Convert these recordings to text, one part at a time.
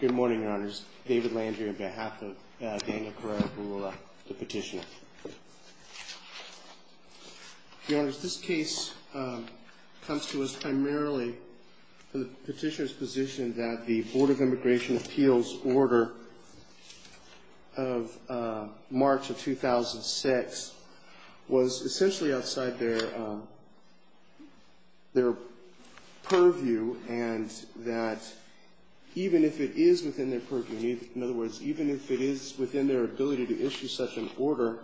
Good morning, Your Honors. David Landry on behalf of Daniel Carrera-Virula, the petitioner. Your Honors, this case comes to us primarily from the petitioner's position that the Board of Immigration Appeals order of March of 2006 was essentially outside their purview and that even if it is within their purview, in other words, even if it is within their ability to issue such an order,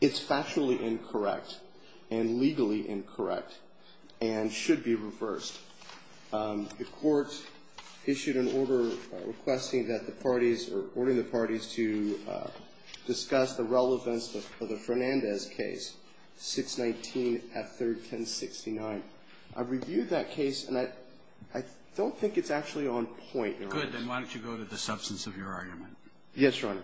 it's factually incorrect and legally incorrect and should be reversed. The Court issued an order requesting that the parties or ordering the parties to discuss the relevance of the Fernandez case, 619F31069. I've reviewed that case, and I don't think it's actually on point, Your Honors. Good. Then why don't you go to the substance of your argument? Yes, Your Honor.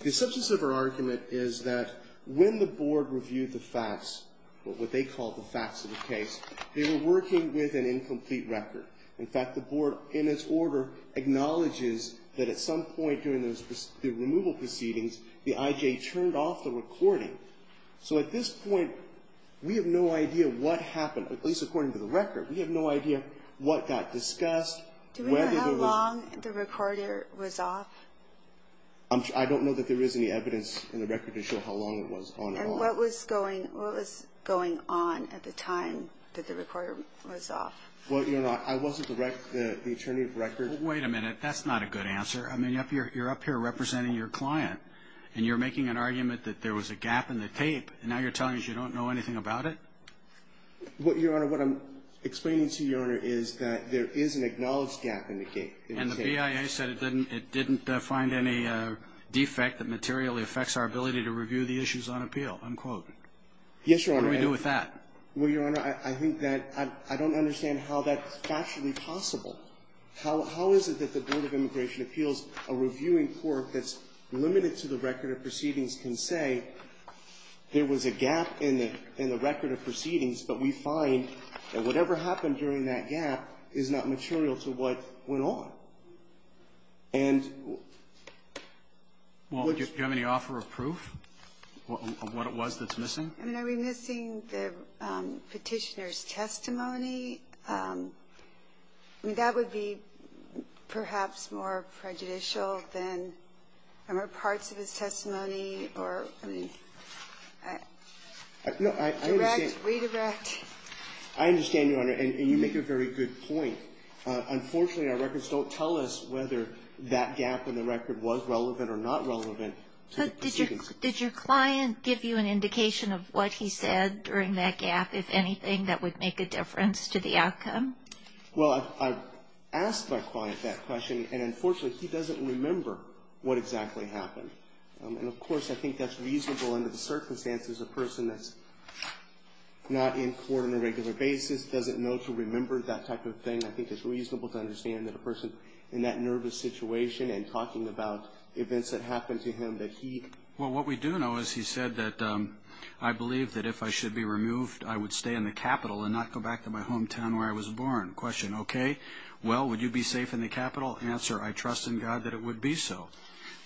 The substance of her argument is that when the Board reviewed the facts, what they call the facts of the case, they were working with an incomplete record. In fact, the Board, in its order, acknowledges that at some point during the removal proceedings, the IJ turned off the recording. So at this point, we have no idea what happened, at least according to the record. We have no idea what got discussed. Do we know how long the recorder was off? I don't know that there is any evidence in the record to show how long it was on and off. And what was going on at the time that the recorder was off? Well, Your Honor, I wasn't the attorney of record. Wait a minute. That's not a good answer. I mean, you're up here representing your client, and you're making an argument that there was a gap in the tape, and now you're telling us you don't know anything about it? Well, Your Honor, what I'm explaining to you, Your Honor, is that there is an acknowledged gap in the tape. And the BIA said it didn't find any defect that materially affects our ability to review the issues on appeal, unquote. Yes, Your Honor. What do we do with that? Well, Your Honor, I think that I don't understand how that's factually possible. How is it that the Board of Immigration Appeals, a reviewing court that's limited to the record of proceedings, can say there was a gap in the record of proceedings, but we find that whatever happened during that gap is not material to what went on? And what's the question? Well, do you have any offer of proof of what it was that's missing? I mean, are we missing the Petitioner's testimony? I mean, that would be perhaps more prejudicial than, I don't know, parts of his testimony or, I mean, direct, redirect. No, I understand. I understand, Your Honor. And you make a very good point. Unfortunately, our records don't tell us whether that gap in the record was relevant or not relevant to the proceedings. But did your client give you an indication of what he said during that gap, if anything, that would make a difference to the outcome? Well, I've asked my client that question, and unfortunately, he doesn't remember what exactly happened. And, of course, I think that's reasonable under the circumstances. A person that's not in court on a regular basis doesn't know to remember that type of thing. I think it's reasonable to understand that a person in that nervous situation and talking about events that happened to him, that he— Well, what we do know is he said that, I believe that if I should be removed, I would stay in the Capitol and not go back to my hometown where I was born. Question, okay. Well, would you be safe in the Capitol? Answer, I trust in God that it would be so.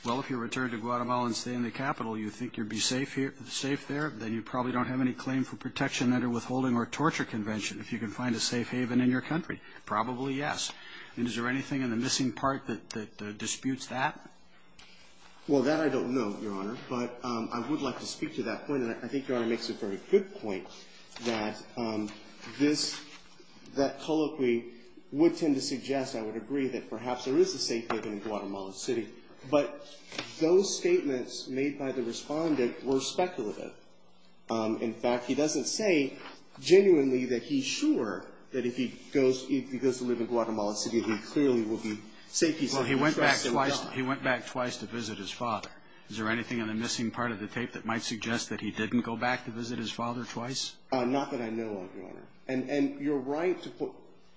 Well, if you return to Guatemala and stay in the Capitol, you think you'd be safe there? Then you probably don't have any claim for protection under withholding or torture convention if you can find a safe haven in your country. Probably yes. And is there anything in the missing part that disputes that? Well, that I don't know, Your Honor. But I would like to speak to that point, and I think Your Honor makes a very good point, that this, that colloquy would tend to suggest, I would agree, that perhaps there is a safe haven in Guatemala City. But those statements made by the Respondent were speculative. In fact, he doesn't say genuinely that he's sure that if he goes to live in Guatemala City, he clearly will be safe. He said he trusts in God. Well, he went back twice to visit his father. Is there anything in the missing part of the tape that might suggest that he didn't go back to visit his father twice? Not that I know of, Your Honor. And you're right to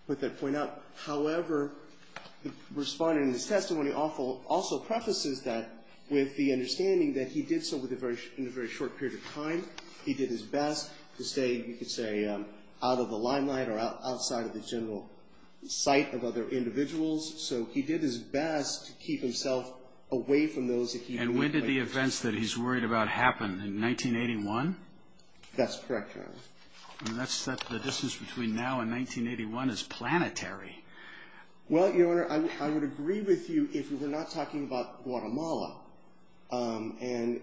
put that point out. However, the Respondent in his testimony also prefaces that with the understanding that he did so in a very short period of time. He did his best to stay, you could say, out of the limelight or outside of the general sight of other individuals. So he did his best to keep himself away from those that he knew. And when did the events that he's worried about happen? In 1981? That's correct, Your Honor. And that's the distance between now and 1981 is planetary. Well, Your Honor, I would agree with you if we were not talking about Guatemala. And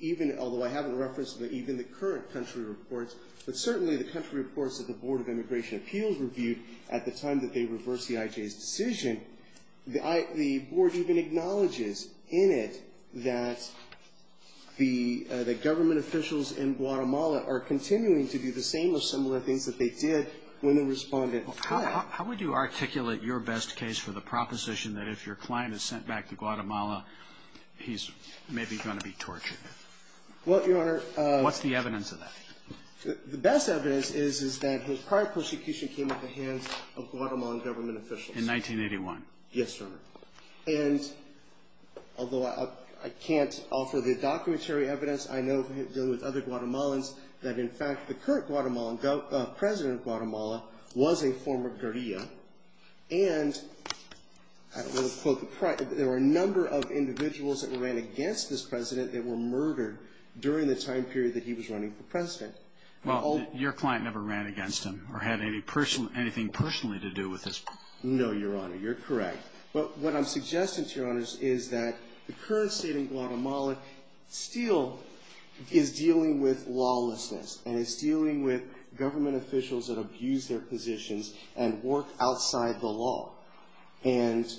even, although I haven't referenced even the current country reports, but certainly the country reports that the Board of Immigration Appeals reviewed at the time that they reversed the IJ's decision, the board even acknowledges in it that the government officials in Guatemala are continuing to do the same or similar things that they did when the Respondent fled. How would you articulate your best case for the proposition that if your client is sent back to Guatemala, he's maybe going to be tortured? Well, Your Honor. What's the evidence of that? The best evidence is that his prior persecution came at the hands of Guatemalan government officials. In 1981? Yes, Your Honor. And although I can't offer the documentary evidence, I know from dealing with other Guatemalans that, in fact, the current president of Guatemala was a former guerrilla. And there were a number of individuals that ran against this president that were murdered during the time period that he was running for president. Well, your client never ran against him or had anything personally to do with this. No, Your Honor. You're correct. But what I'm suggesting to Your Honors is that the current state in Guatemala still is dealing with lawlessness and is dealing with government officials that abuse their positions and work outside the law. And...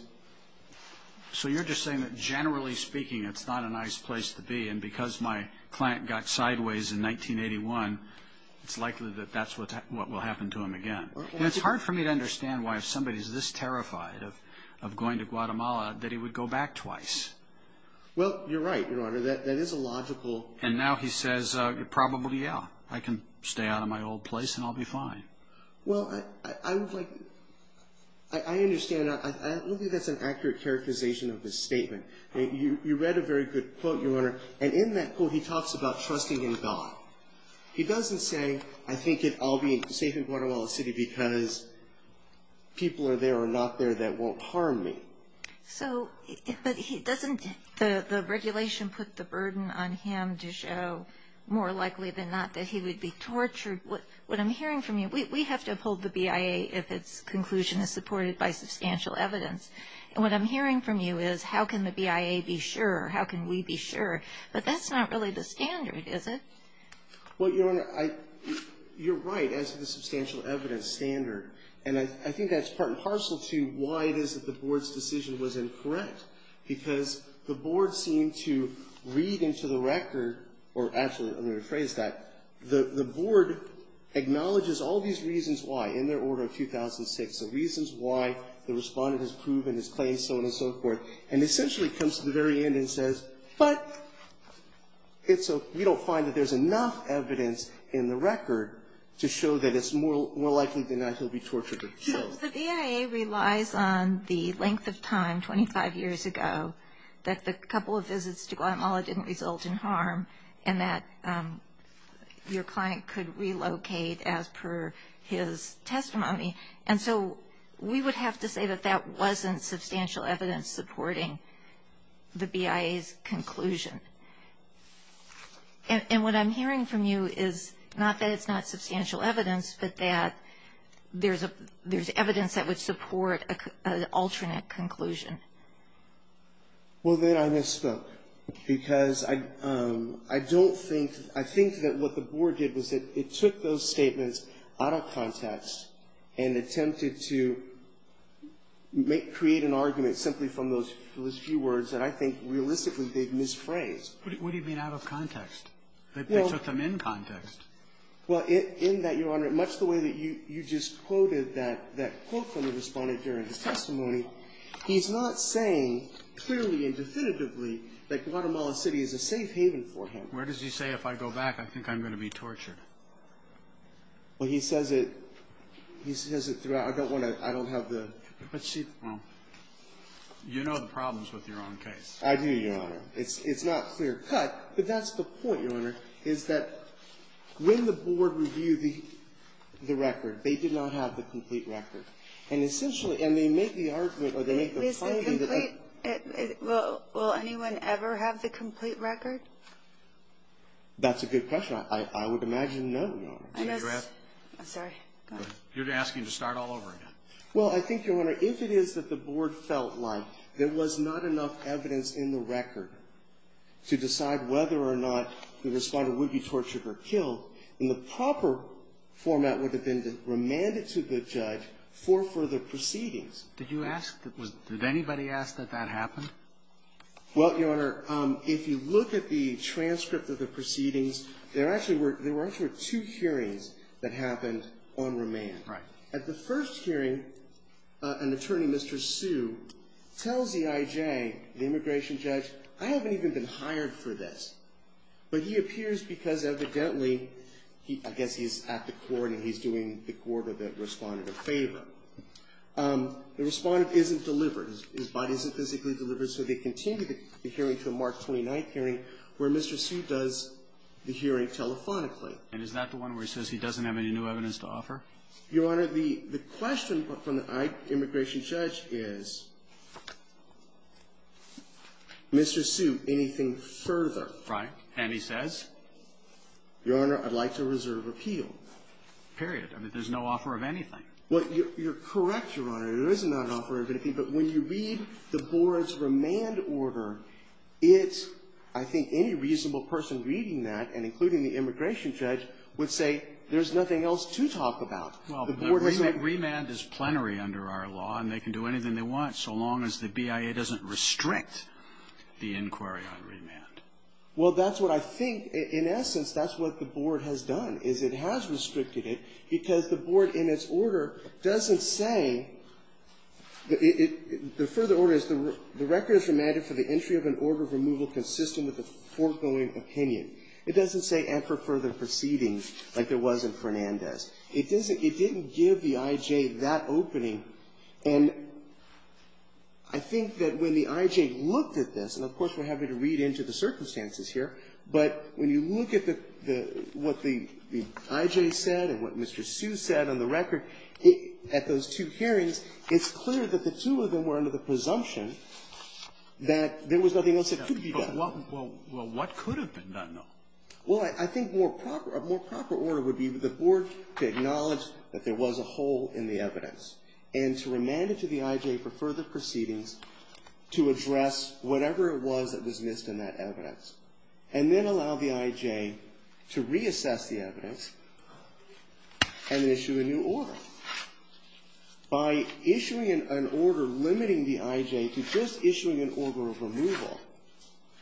So you're just saying that, generally speaking, it's not a nice place to be. And because my client got sideways in 1981, it's likely that that's what will happen to him again. And it's hard for me to understand why, if somebody is this terrified of going to Guatemala, that he would go back twice. Well, you're right, Your Honor. That is a logical... And now he says, probably, yeah, I can stay out of my old place and I'll be fine. Well, I would like... I understand. I don't think that's an accurate characterization of his statement. You read a very good quote, Your Honor, and in that quote he talks about trusting in God. He doesn't say, I think I'll be safe in Guatemala City because people are there or not there that won't harm me. So, but he doesn't... The regulation put the burden on him to show, more likely than not, that he would be tortured. What I'm hearing from you, we have to uphold the BIA if its conclusion is supported by substantial evidence. And what I'm hearing from you is, how can the BIA be sure? How can we be sure? But that's not really the standard, is it? Well, Your Honor, you're right as to the substantial evidence standard. And I think that's part and parcel to why it is that the board's decision was incorrect. Because the board seemed to read into the record, or actually, I'm going to rephrase that, the board acknowledges all these reasons why, in their order of 2006, the reasons why the respondent has proven his claim, so on and so forth, and essentially comes to the very end and says, but we don't find that there's enough evidence in the record to show that it's more likely than not he'll be tortured himself. The BIA relies on the length of time, 25 years ago, that the couple of visits to Guatemala didn't result in harm, and that your client could relocate as per his testimony. And so we would have to say that that wasn't substantial evidence supporting the BIA's conclusion. And what I'm hearing from you is not that it's not substantial evidence, but that there's evidence that would support an alternate conclusion. Well, then I misspoke. Because I don't think, I think that what the board did was that it took those statements out of context and attempted to create an argument simply from those few words that I think realistically they've misphrased. What do you mean out of context? They took them in context. Well, in that, Your Honor, much the way that you just quoted that quote from the respondent during his testimony, he's not saying clearly and definitively that Guatemala City is a safe haven for him. Where does he say, if I go back, I think I'm going to be tortured? Well, he says it, he says it throughout. I don't want to, I don't have the. But she, well, you know the problems with your own case. I do, Your Honor. It's not clear cut, but that's the point, Your Honor, is that when the board reviewed the record, they did not have the complete record. And essentially, and they make the argument, or they make the finding that. Is the complete, will anyone ever have the complete record? That's a good question. I would imagine no, Your Honor. I'm sorry. Go ahead. You're asking to start all over again. Well, I think, Your Honor, if it is that the board felt like there was not enough evidence in the record to decide whether or not the respondent would be tortured or killed, then the proper format would have been to remand it to the judge for further proceedings. Did you ask, did anybody ask that that happened? Well, Your Honor, if you look at the transcript of the proceedings, there actually were two hearings that happened on remand. Right. At the first hearing, an attorney, Mr. Sue, tells EIJ, the immigration judge, I haven't even been hired for this. But he appears because evidently, I guess he's at the court and he's doing the court of the respondent a favor. The respondent isn't delivered. His body isn't physically delivered. So they continue the hearing to the March 29th hearing where Mr. Sue does the hearing telephonically. And is that the one where he says he doesn't have any new evidence to offer? Your Honor, the question from the immigration judge is, Mr. Sue, anything further? Right. And he says? Your Honor, I'd like to reserve appeal. Period. I mean, there's no offer of anything. Well, you're correct, Your Honor. There is not an offer of anything. But when you read the board's remand order, it's, I think, any reasonable person reading that, and including the immigration judge, would say there's nothing else to talk about. Well, the remand is plenary under our law, and they can do anything they want so long as the BIA doesn't restrict the inquiry on remand. Well, that's what I think, in essence, that's what the board has done, is it has restricted it, because the board, in its order, doesn't say, the further order is, the record is remanded for the entry of an order of removal consistent with the foregoing opinion. It doesn't say, and for further proceedings, like there was in Fernandez. It doesn't, it didn't give the I.J. that opening. And I think that when the I.J. looked at this, and, of course, we're having to read into the circumstances here, but when you look at the, what the I.J. said and what Mr. Sue said on the record, at those two hearings, it's clear that the two of them were under the presumption that there was nothing else that could be done. Well, what could have been done, though? Well, I think more proper, a more proper order would be for the board to acknowledge that there was a hole in the evidence, and to remand it to the I.J. for further proceedings to address whatever it was that was missed in that evidence. And then allow the I.J. to reassess the evidence and issue a new order. By issuing an order limiting the I.J. to just issuing an order of removal,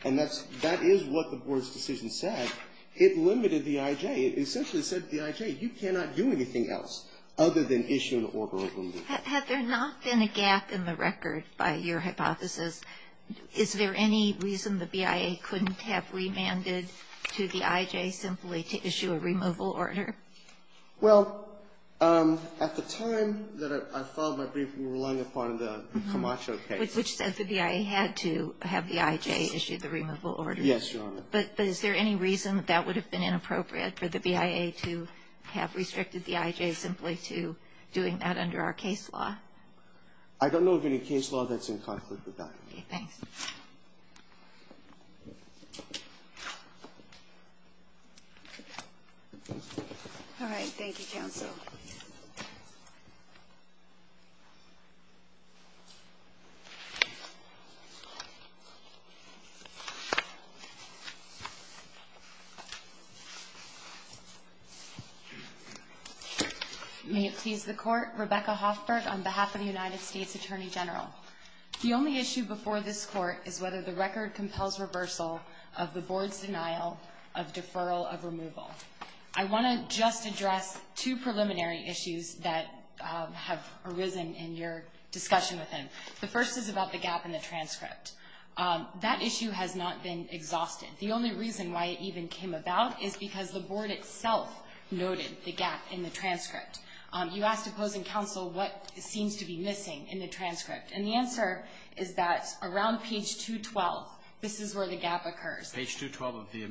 and that's, that is what the board's decision said, it limited the I.J. It essentially said to the I.J., you cannot do anything else other than issue an order of removal. Had there not been a gap in the record by your hypothesis, is there any reason the BIA couldn't have remanded to the I.J. simply to issue a removal order? Well, at the time that I filed my brief, we were relying upon the Camacho case. Which said the BIA had to have the I.J. issue the removal order. Yes, Your Honor. But is there any reason that that would have been inappropriate for the BIA to have a case law? I don't know of any case law that's in conflict with that. Okay, thanks. All right, thank you, counsel. May it please the court, Rebecca Hoffberg on behalf of the United States Attorney General. The only issue before this court is whether the record compels reversal of the board's denial of deferral of removal. I want to just address two preliminary issues that have arisen in your discussion with him. The first is about the gap in the transcript. That issue has not been exhausted. The only reason why it even came about is because the board itself noted the gap in the transcript. You asked opposing counsel what seems to be missing in the transcript. And the answer is that around page 212, this is where the gap occurs. Page 212 of the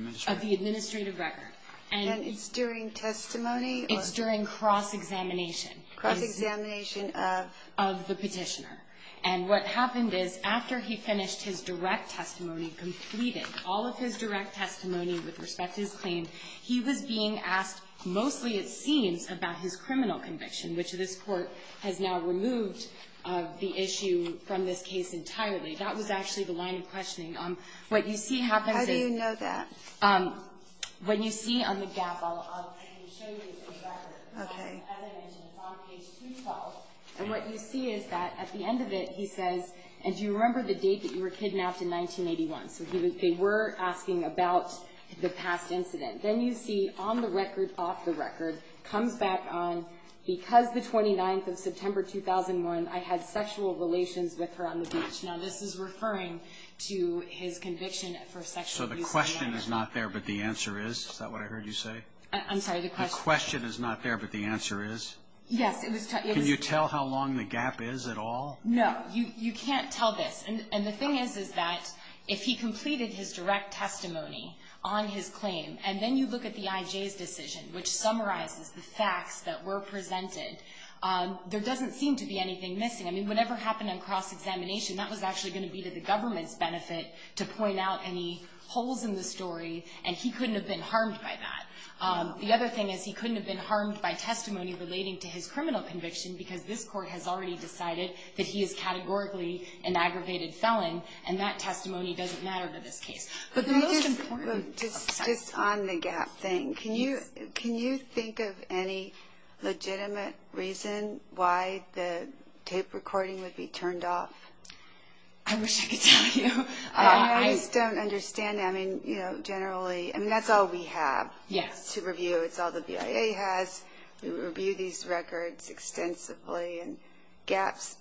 administrative record. And it's during testimony? It's during cross-examination. Cross-examination of? Of the Petitioner. And what happened is, after he finished his direct testimony, completed all of his direct testimony with respect to his claim, he was being asked mostly, it seems, about his criminal conviction, which this Court has now removed the issue from this case entirely. That was actually the line of questioning. What you see happens is How do you know that? When you see on the gap, I'll show you the record. Okay. As I mentioned, it's on page 212. And what you see is that at the end of it, he says, and do you remember the date that you were kidnapped in 1981? So they were asking about the past incident. Then you see on the record, off the record, comes back on, because the 29th of September 2001, I had sexual relations with her on the beach. Now, this is referring to his conviction for sexual abuse. So the question is not there, but the answer is? Is that what I heard you say? I'm sorry. The question is not there, but the answer is? Yes. Can you tell how long the gap is at all? No. You can't tell this. And the thing is, is that if he completed his direct testimony on his claim, and then you look at the IJ's decision, which summarizes the facts that were presented, there doesn't seem to be anything missing. I mean, whatever happened in cross-examination, that was actually going to be to the government's benefit to point out any holes in the story, and he couldn't have been harmed by that. The other thing is, he couldn't have been harmed by testimony relating to his criminal conviction, because this court has already decided that he is categorically an aggravated felon, and that testimony doesn't matter for this case. But the most important... Just on the gap thing, can you think of any legitimate reason why the tape recording would be turned off? I wish I could tell you. I just don't understand. I mean, generally, that's all we have to review. It's all the BIA has. We review these records extensively, and gaps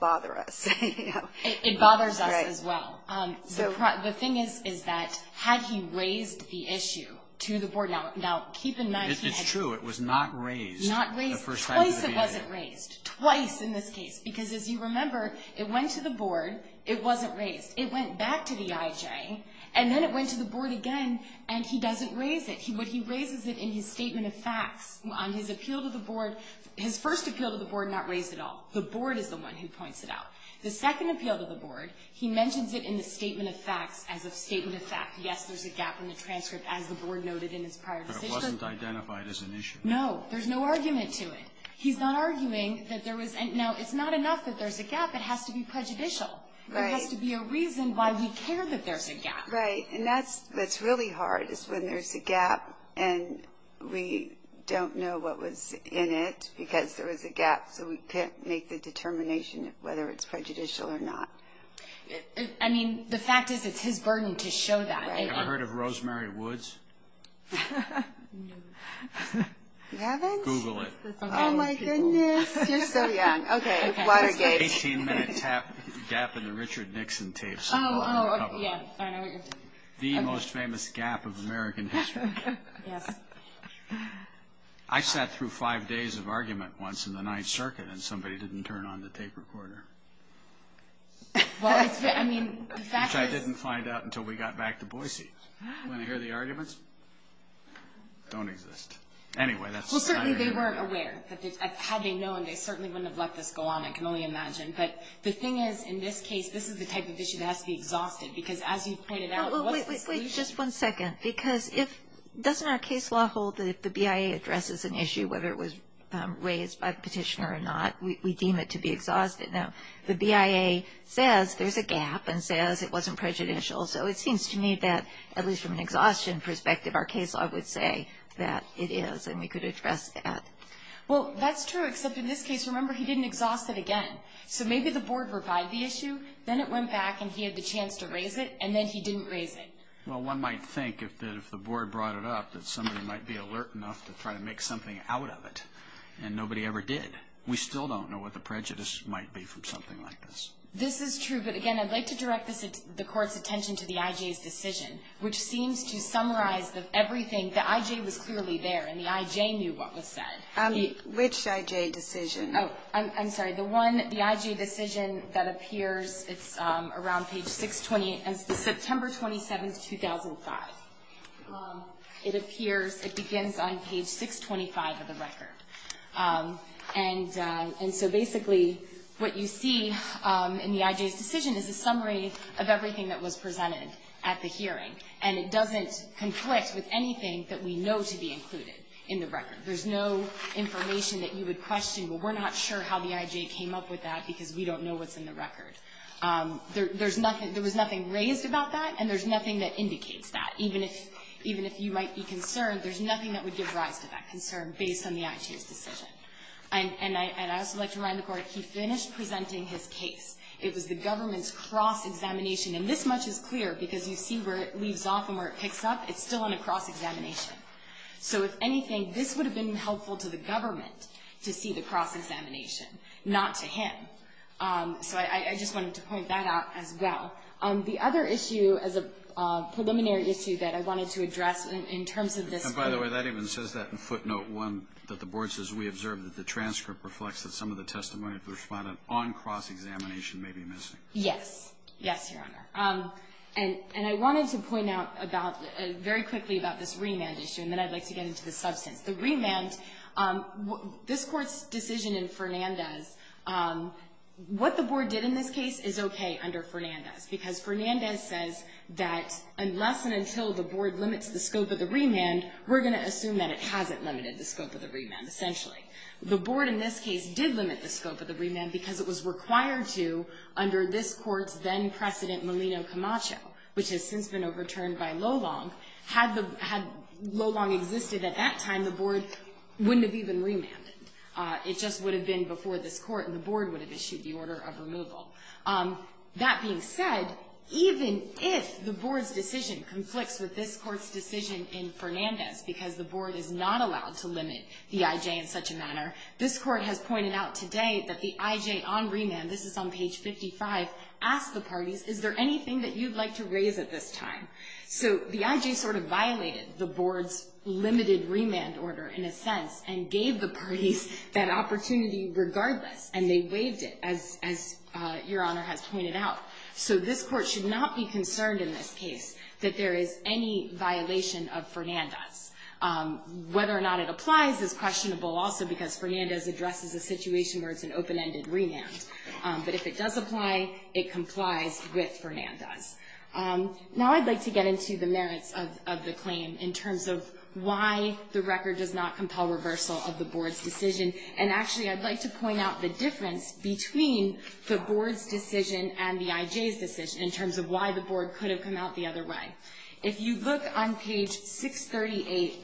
bother us. It bothers us as well. The thing is, is that had he raised the issue to the board... Now, keep in mind... It's true. It was not raised the first time to the BIA. Twice it wasn't raised. Twice in this case. Because, as you remember, it went to the board, it wasn't raised. It went back to the IJ, and then it went to the board again, and he doesn't raise it. He raises it in his statement of facts. On his appeal to the board, his first appeal to the board not raised at all. The board is the one who points it out. The second appeal to the board, he mentions it in the statement of facts as a statement of fact. Yes, there's a gap in the transcript, as the board noted in his prior decision. But it wasn't identified as an issue. No. There's no argument to it. He's not arguing that there was... No, it's not enough that there's a gap. It has to be prejudicial. Right. There has to be a reason why we care that there's a gap. Right. And that's really hard, is when there's a gap, and we don't know what was in it because there was a gap, so we can't make the determination of whether it's prejudicial or not. I mean, the fact is, it's his burden to show that. Right. Have you ever heard of Rosemary Woods? No. You haven't? Google it. Oh, my goodness. You're so young. Watergate. There's an 18-minute gap in the Richard Nixon tapes. Oh, yeah. I know what you're thinking. The most famous gap of American history. Yes. I sat through five days of argument once in the Ninth Circuit, and somebody didn't turn on the tape recorder. Well, I mean, the fact is... Which I didn't find out until we got back to Boise. Want to hear the arguments? Don't exist. Well, certainly they weren't aware. Had they known, they certainly wouldn't have let this go on, I can only imagine. But the thing is, in this case, this is the type of issue that has to be exhausted, because as you pointed out, what's the solution? Wait just one second, because doesn't our case law hold that if the BIA addresses an issue, whether it was raised by the petitioner or not, we deem it to be exhausted? Now, the BIA says there's a gap and says it wasn't prejudicial, so it seems to me that, at least from an exhaustion perspective, our case law would say that it is, and we could address that. Well, that's true, except in this case, remember, he didn't exhaust it again. So maybe the board revived the issue, then it went back and he had the chance to raise it, and then he didn't raise it. Well, one might think that if the board brought it up, that somebody might be alert enough to try to make something out of it, and nobody ever did. We still don't know what the prejudice might be from something like this. This is true, but again, I'd like to direct the Court's attention to the IJ's decision. It was clearly there, and the IJ knew what was said. Which IJ decision? Oh, I'm sorry. The one, the IJ decision that appears, it's around page 628, September 27th, 2005. It appears, it begins on page 625 of the record. And so basically, what you see in the IJ's decision is a summary of everything that was presented at the hearing. And it doesn't conflict with anything that we know to be included in the record. There's no information that you would question, well, we're not sure how the IJ came up with that because we don't know what's in the record. There was nothing raised about that, and there's nothing that indicates that. Even if you might be concerned, there's nothing that would give rise to that concern based on the IJ's decision. And I'd also like to remind the Court, he finished presenting his case. It was the government's cross-examination. And this much is clear because you see where it leaves off and where it picks up, it's still on a cross-examination. So if anything, this would have been helpful to the government to see the cross-examination, not to him. So I just wanted to point that out as well. The other issue is a preliminary issue that I wanted to address in terms of this. And by the way, that even says that in footnote 1 that the board says, we observed that the transcript reflects that some of the testimony of the respondent on cross-examination may be missing. Yes. Yes, Your Honor. And I wanted to point out very quickly about this remand issue, and then I'd like to get into the substance. The remand, this Court's decision in Fernandez, what the board did in this case is okay under Fernandez, because Fernandez says that unless and until the board limits the scope of the remand, we're going to assume that it hasn't limited the scope of the remand, essentially. The board in this case did limit the scope of the remand because it was required to under this Court's then-President Melino Camacho, which has since been overturned by Lolong. Had Lolong existed at that time, the board wouldn't have even remanded. It just would have been before this Court, and the board would have issued the order of removal. That being said, even if the board's decision conflicts with this Court's decision in Fernandez because the board is not allowed to limit the I.J. in such a manner, this Court has pointed out today that the I.J. on remand, this is on page 55, asked the parties, is there anything that you'd like to raise at this time? So the I.J. sort of violated the board's limited remand order, in a sense, and gave the parties that opportunity regardless, and they waived it, as Your Honor has pointed out. So this Court should not be concerned in this case that there is any violation of Fernandez. Whether or not it applies is questionable also because Fernandez addresses a open-ended remand. But if it does apply, it complies with Fernandez. Now I'd like to get into the merits of the claim in terms of why the record does not compel reversal of the board's decision. And actually I'd like to point out the difference between the board's decision and the I.J.'s decision in terms of why the board could have come out the other way. If you look on page 638,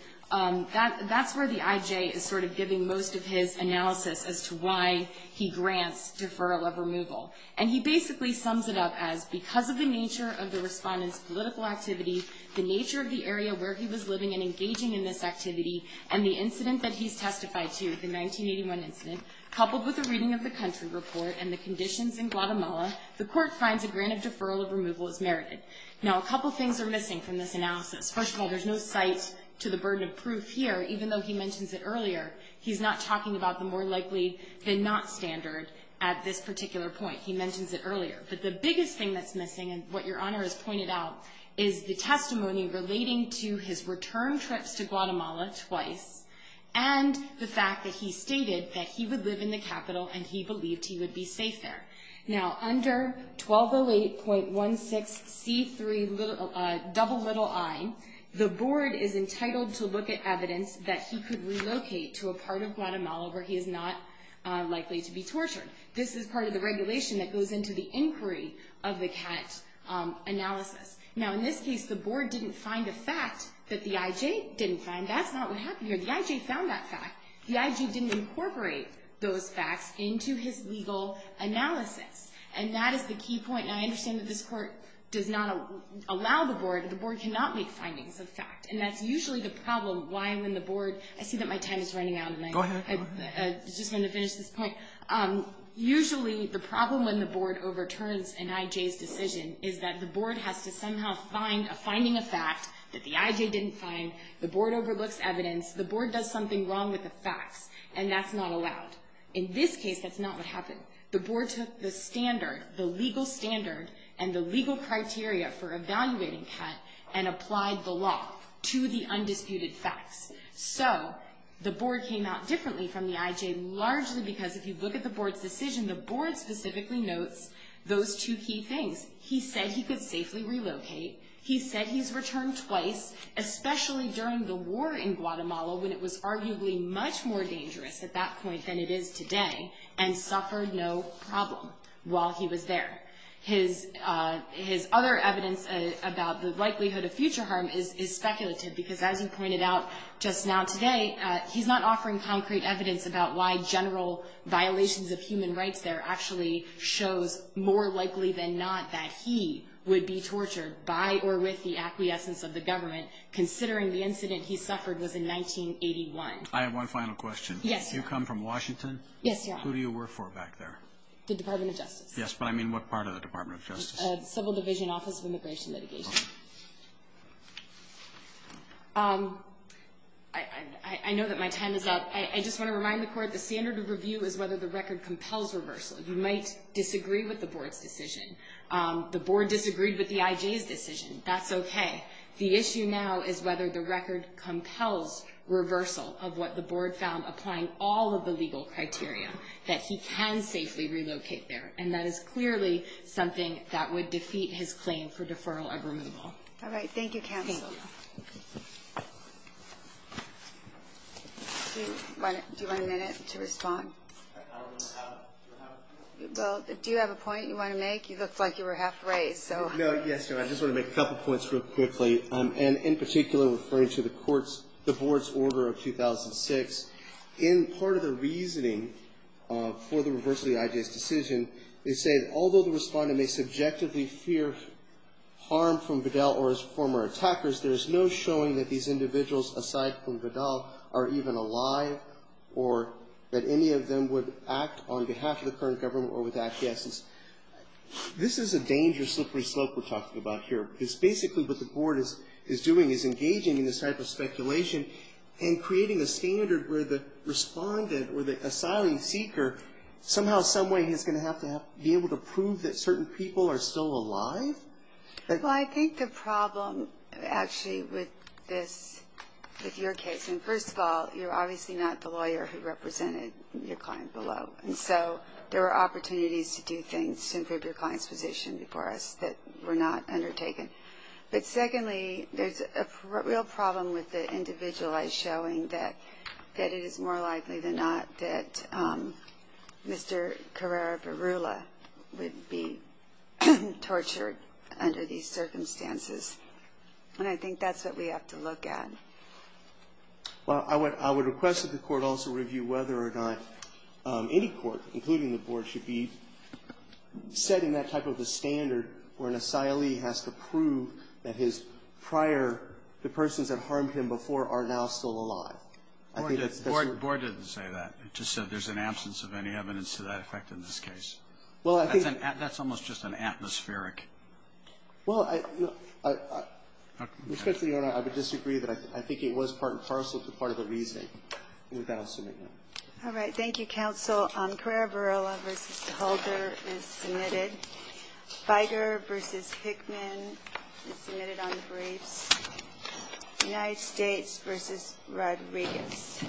that's where the I.J. is sort of giving most of his analysis as to why he grants deferral of removal. And he basically sums it up as, because of the nature of the respondent's political activity, the nature of the area where he was living and engaging in this activity, and the incident that he's testified to, the 1981 incident, coupled with a reading of the country report and the conditions in Guatemala, the Court finds a grant of deferral of removal as merited. Now a couple things are missing from this analysis. First of all, there's no cite to the burden of proof here, even though he mentions it earlier. He's not talking about the more likely than not standard at this particular point. He mentions it earlier. But the biggest thing that's missing, and what Your Honor has pointed out, is the testimony relating to his return trips to Guatemala twice and the fact that he stated that he would live in the capital and he believed he would be safe there. Now under 1208.16C3 double little I, the board is entitled to look at evidence that he could relocate to a part of Guatemala where he is not likely to be tortured. This is part of the regulation that goes into the inquiry of the CAT analysis. Now in this case, the board didn't find a fact that the IJ didn't find. That's not what happened here. The IJ found that fact. The IJ didn't incorporate those facts into his legal analysis. And that is the key point. And I understand that this Court does not allow the board, and the board cannot make findings of fact. And that's usually the problem why when the board, I see that my time is running out and I just want to finish this point. Usually the problem when the board overturns an IJ's decision is that the board has to somehow find a finding of fact that the IJ didn't find. The board overlooks evidence. The board does something wrong with the facts. And that's not allowed. In this case, that's not what happened. The board took the standard, the legal standard, and the legal criteria for evaluating CAT, and applied the law to the undisputed facts. So the board came out differently from the IJ, largely because if you look at the board's decision, the board specifically notes those two key things. He said he could safely relocate. He said he's returned twice, especially during the war in Guatemala, when it was arguably much more dangerous at that point than it is today, and suffered no problem while he was there. His other evidence about the likelihood of future harm is speculative, because as you pointed out just now today, he's not offering concrete evidence about why general violations of human rights there actually shows more likely than not that he would be tortured by or with the acquiescence of the government, considering the incident he suffered was in 1981. I have one final question. Yes. You come from Washington? Yes, Your Honor. Who do you work for back there? The Department of Justice. Yes, but I mean what part of the Department of Justice? Civil Division, Office of Immigration Litigation. I know that my time is up. I just want to remind the Court the standard of review is whether the record compels reversal. You might disagree with the board's decision. The board disagreed with the IJ's decision. That's okay. The issue now is whether the record compels reversal of what the board found applying all of the legal criteria, that he can safely relocate there, and that is clearly something that would defeat his claim for deferral of removal. All right. Thank you, counsel. Thank you. Do you want a minute to respond? I don't have a minute. Well, do you have a point you want to make? You looked like you were half way, so. No, yes, Your Honor. I just want to make a couple points real quickly, and in particular referring to the board's order of 2006. In part of the reasoning for the reversal of the IJ's decision, they say that although the respondent may subjectively fear harm from Vidal or his former attackers, there is no showing that these individuals, aside from Vidal, are even alive or that any of them would act on behalf of the current government or would act against this. This is a dangerous, slippery slope we're talking about here, because basically what the board is doing is engaging in this type of speculation and creating a standard where the respondent or the asylum seeker somehow, someway is going to have to be able to prove that certain people are still alive. Well, I think the problem actually with this, with your case, and first of all, you're obviously not the lawyer who represented your client below, and so there are opportunities to do things to improve your client's position before us that were not undertaken. But secondly, there's a real problem with the individualized showing that it is more likely than not that Mr. Carrara-Varula would be tortured under these circumstances, and I think that's what we have to look at. Well, I would request that the court also review whether or not any court, including the board, should be setting that type of a standard where an asylee has to prove that his prior, the persons that harmed him before, are now still alive. I think that's the sort of thing. The board didn't say that. It just said there's an absence of any evidence to that effect in this case. Well, I think that's almost just an atmospheric. Well, I would disagree that I think it was part and parcel to part of the reasoning. With that, I'll submit no. All right. Thank you, counsel. Carrara-Varula v. Hulger is submitted. Biger v. Pickman is submitted on briefs. United States v. Rodriguez.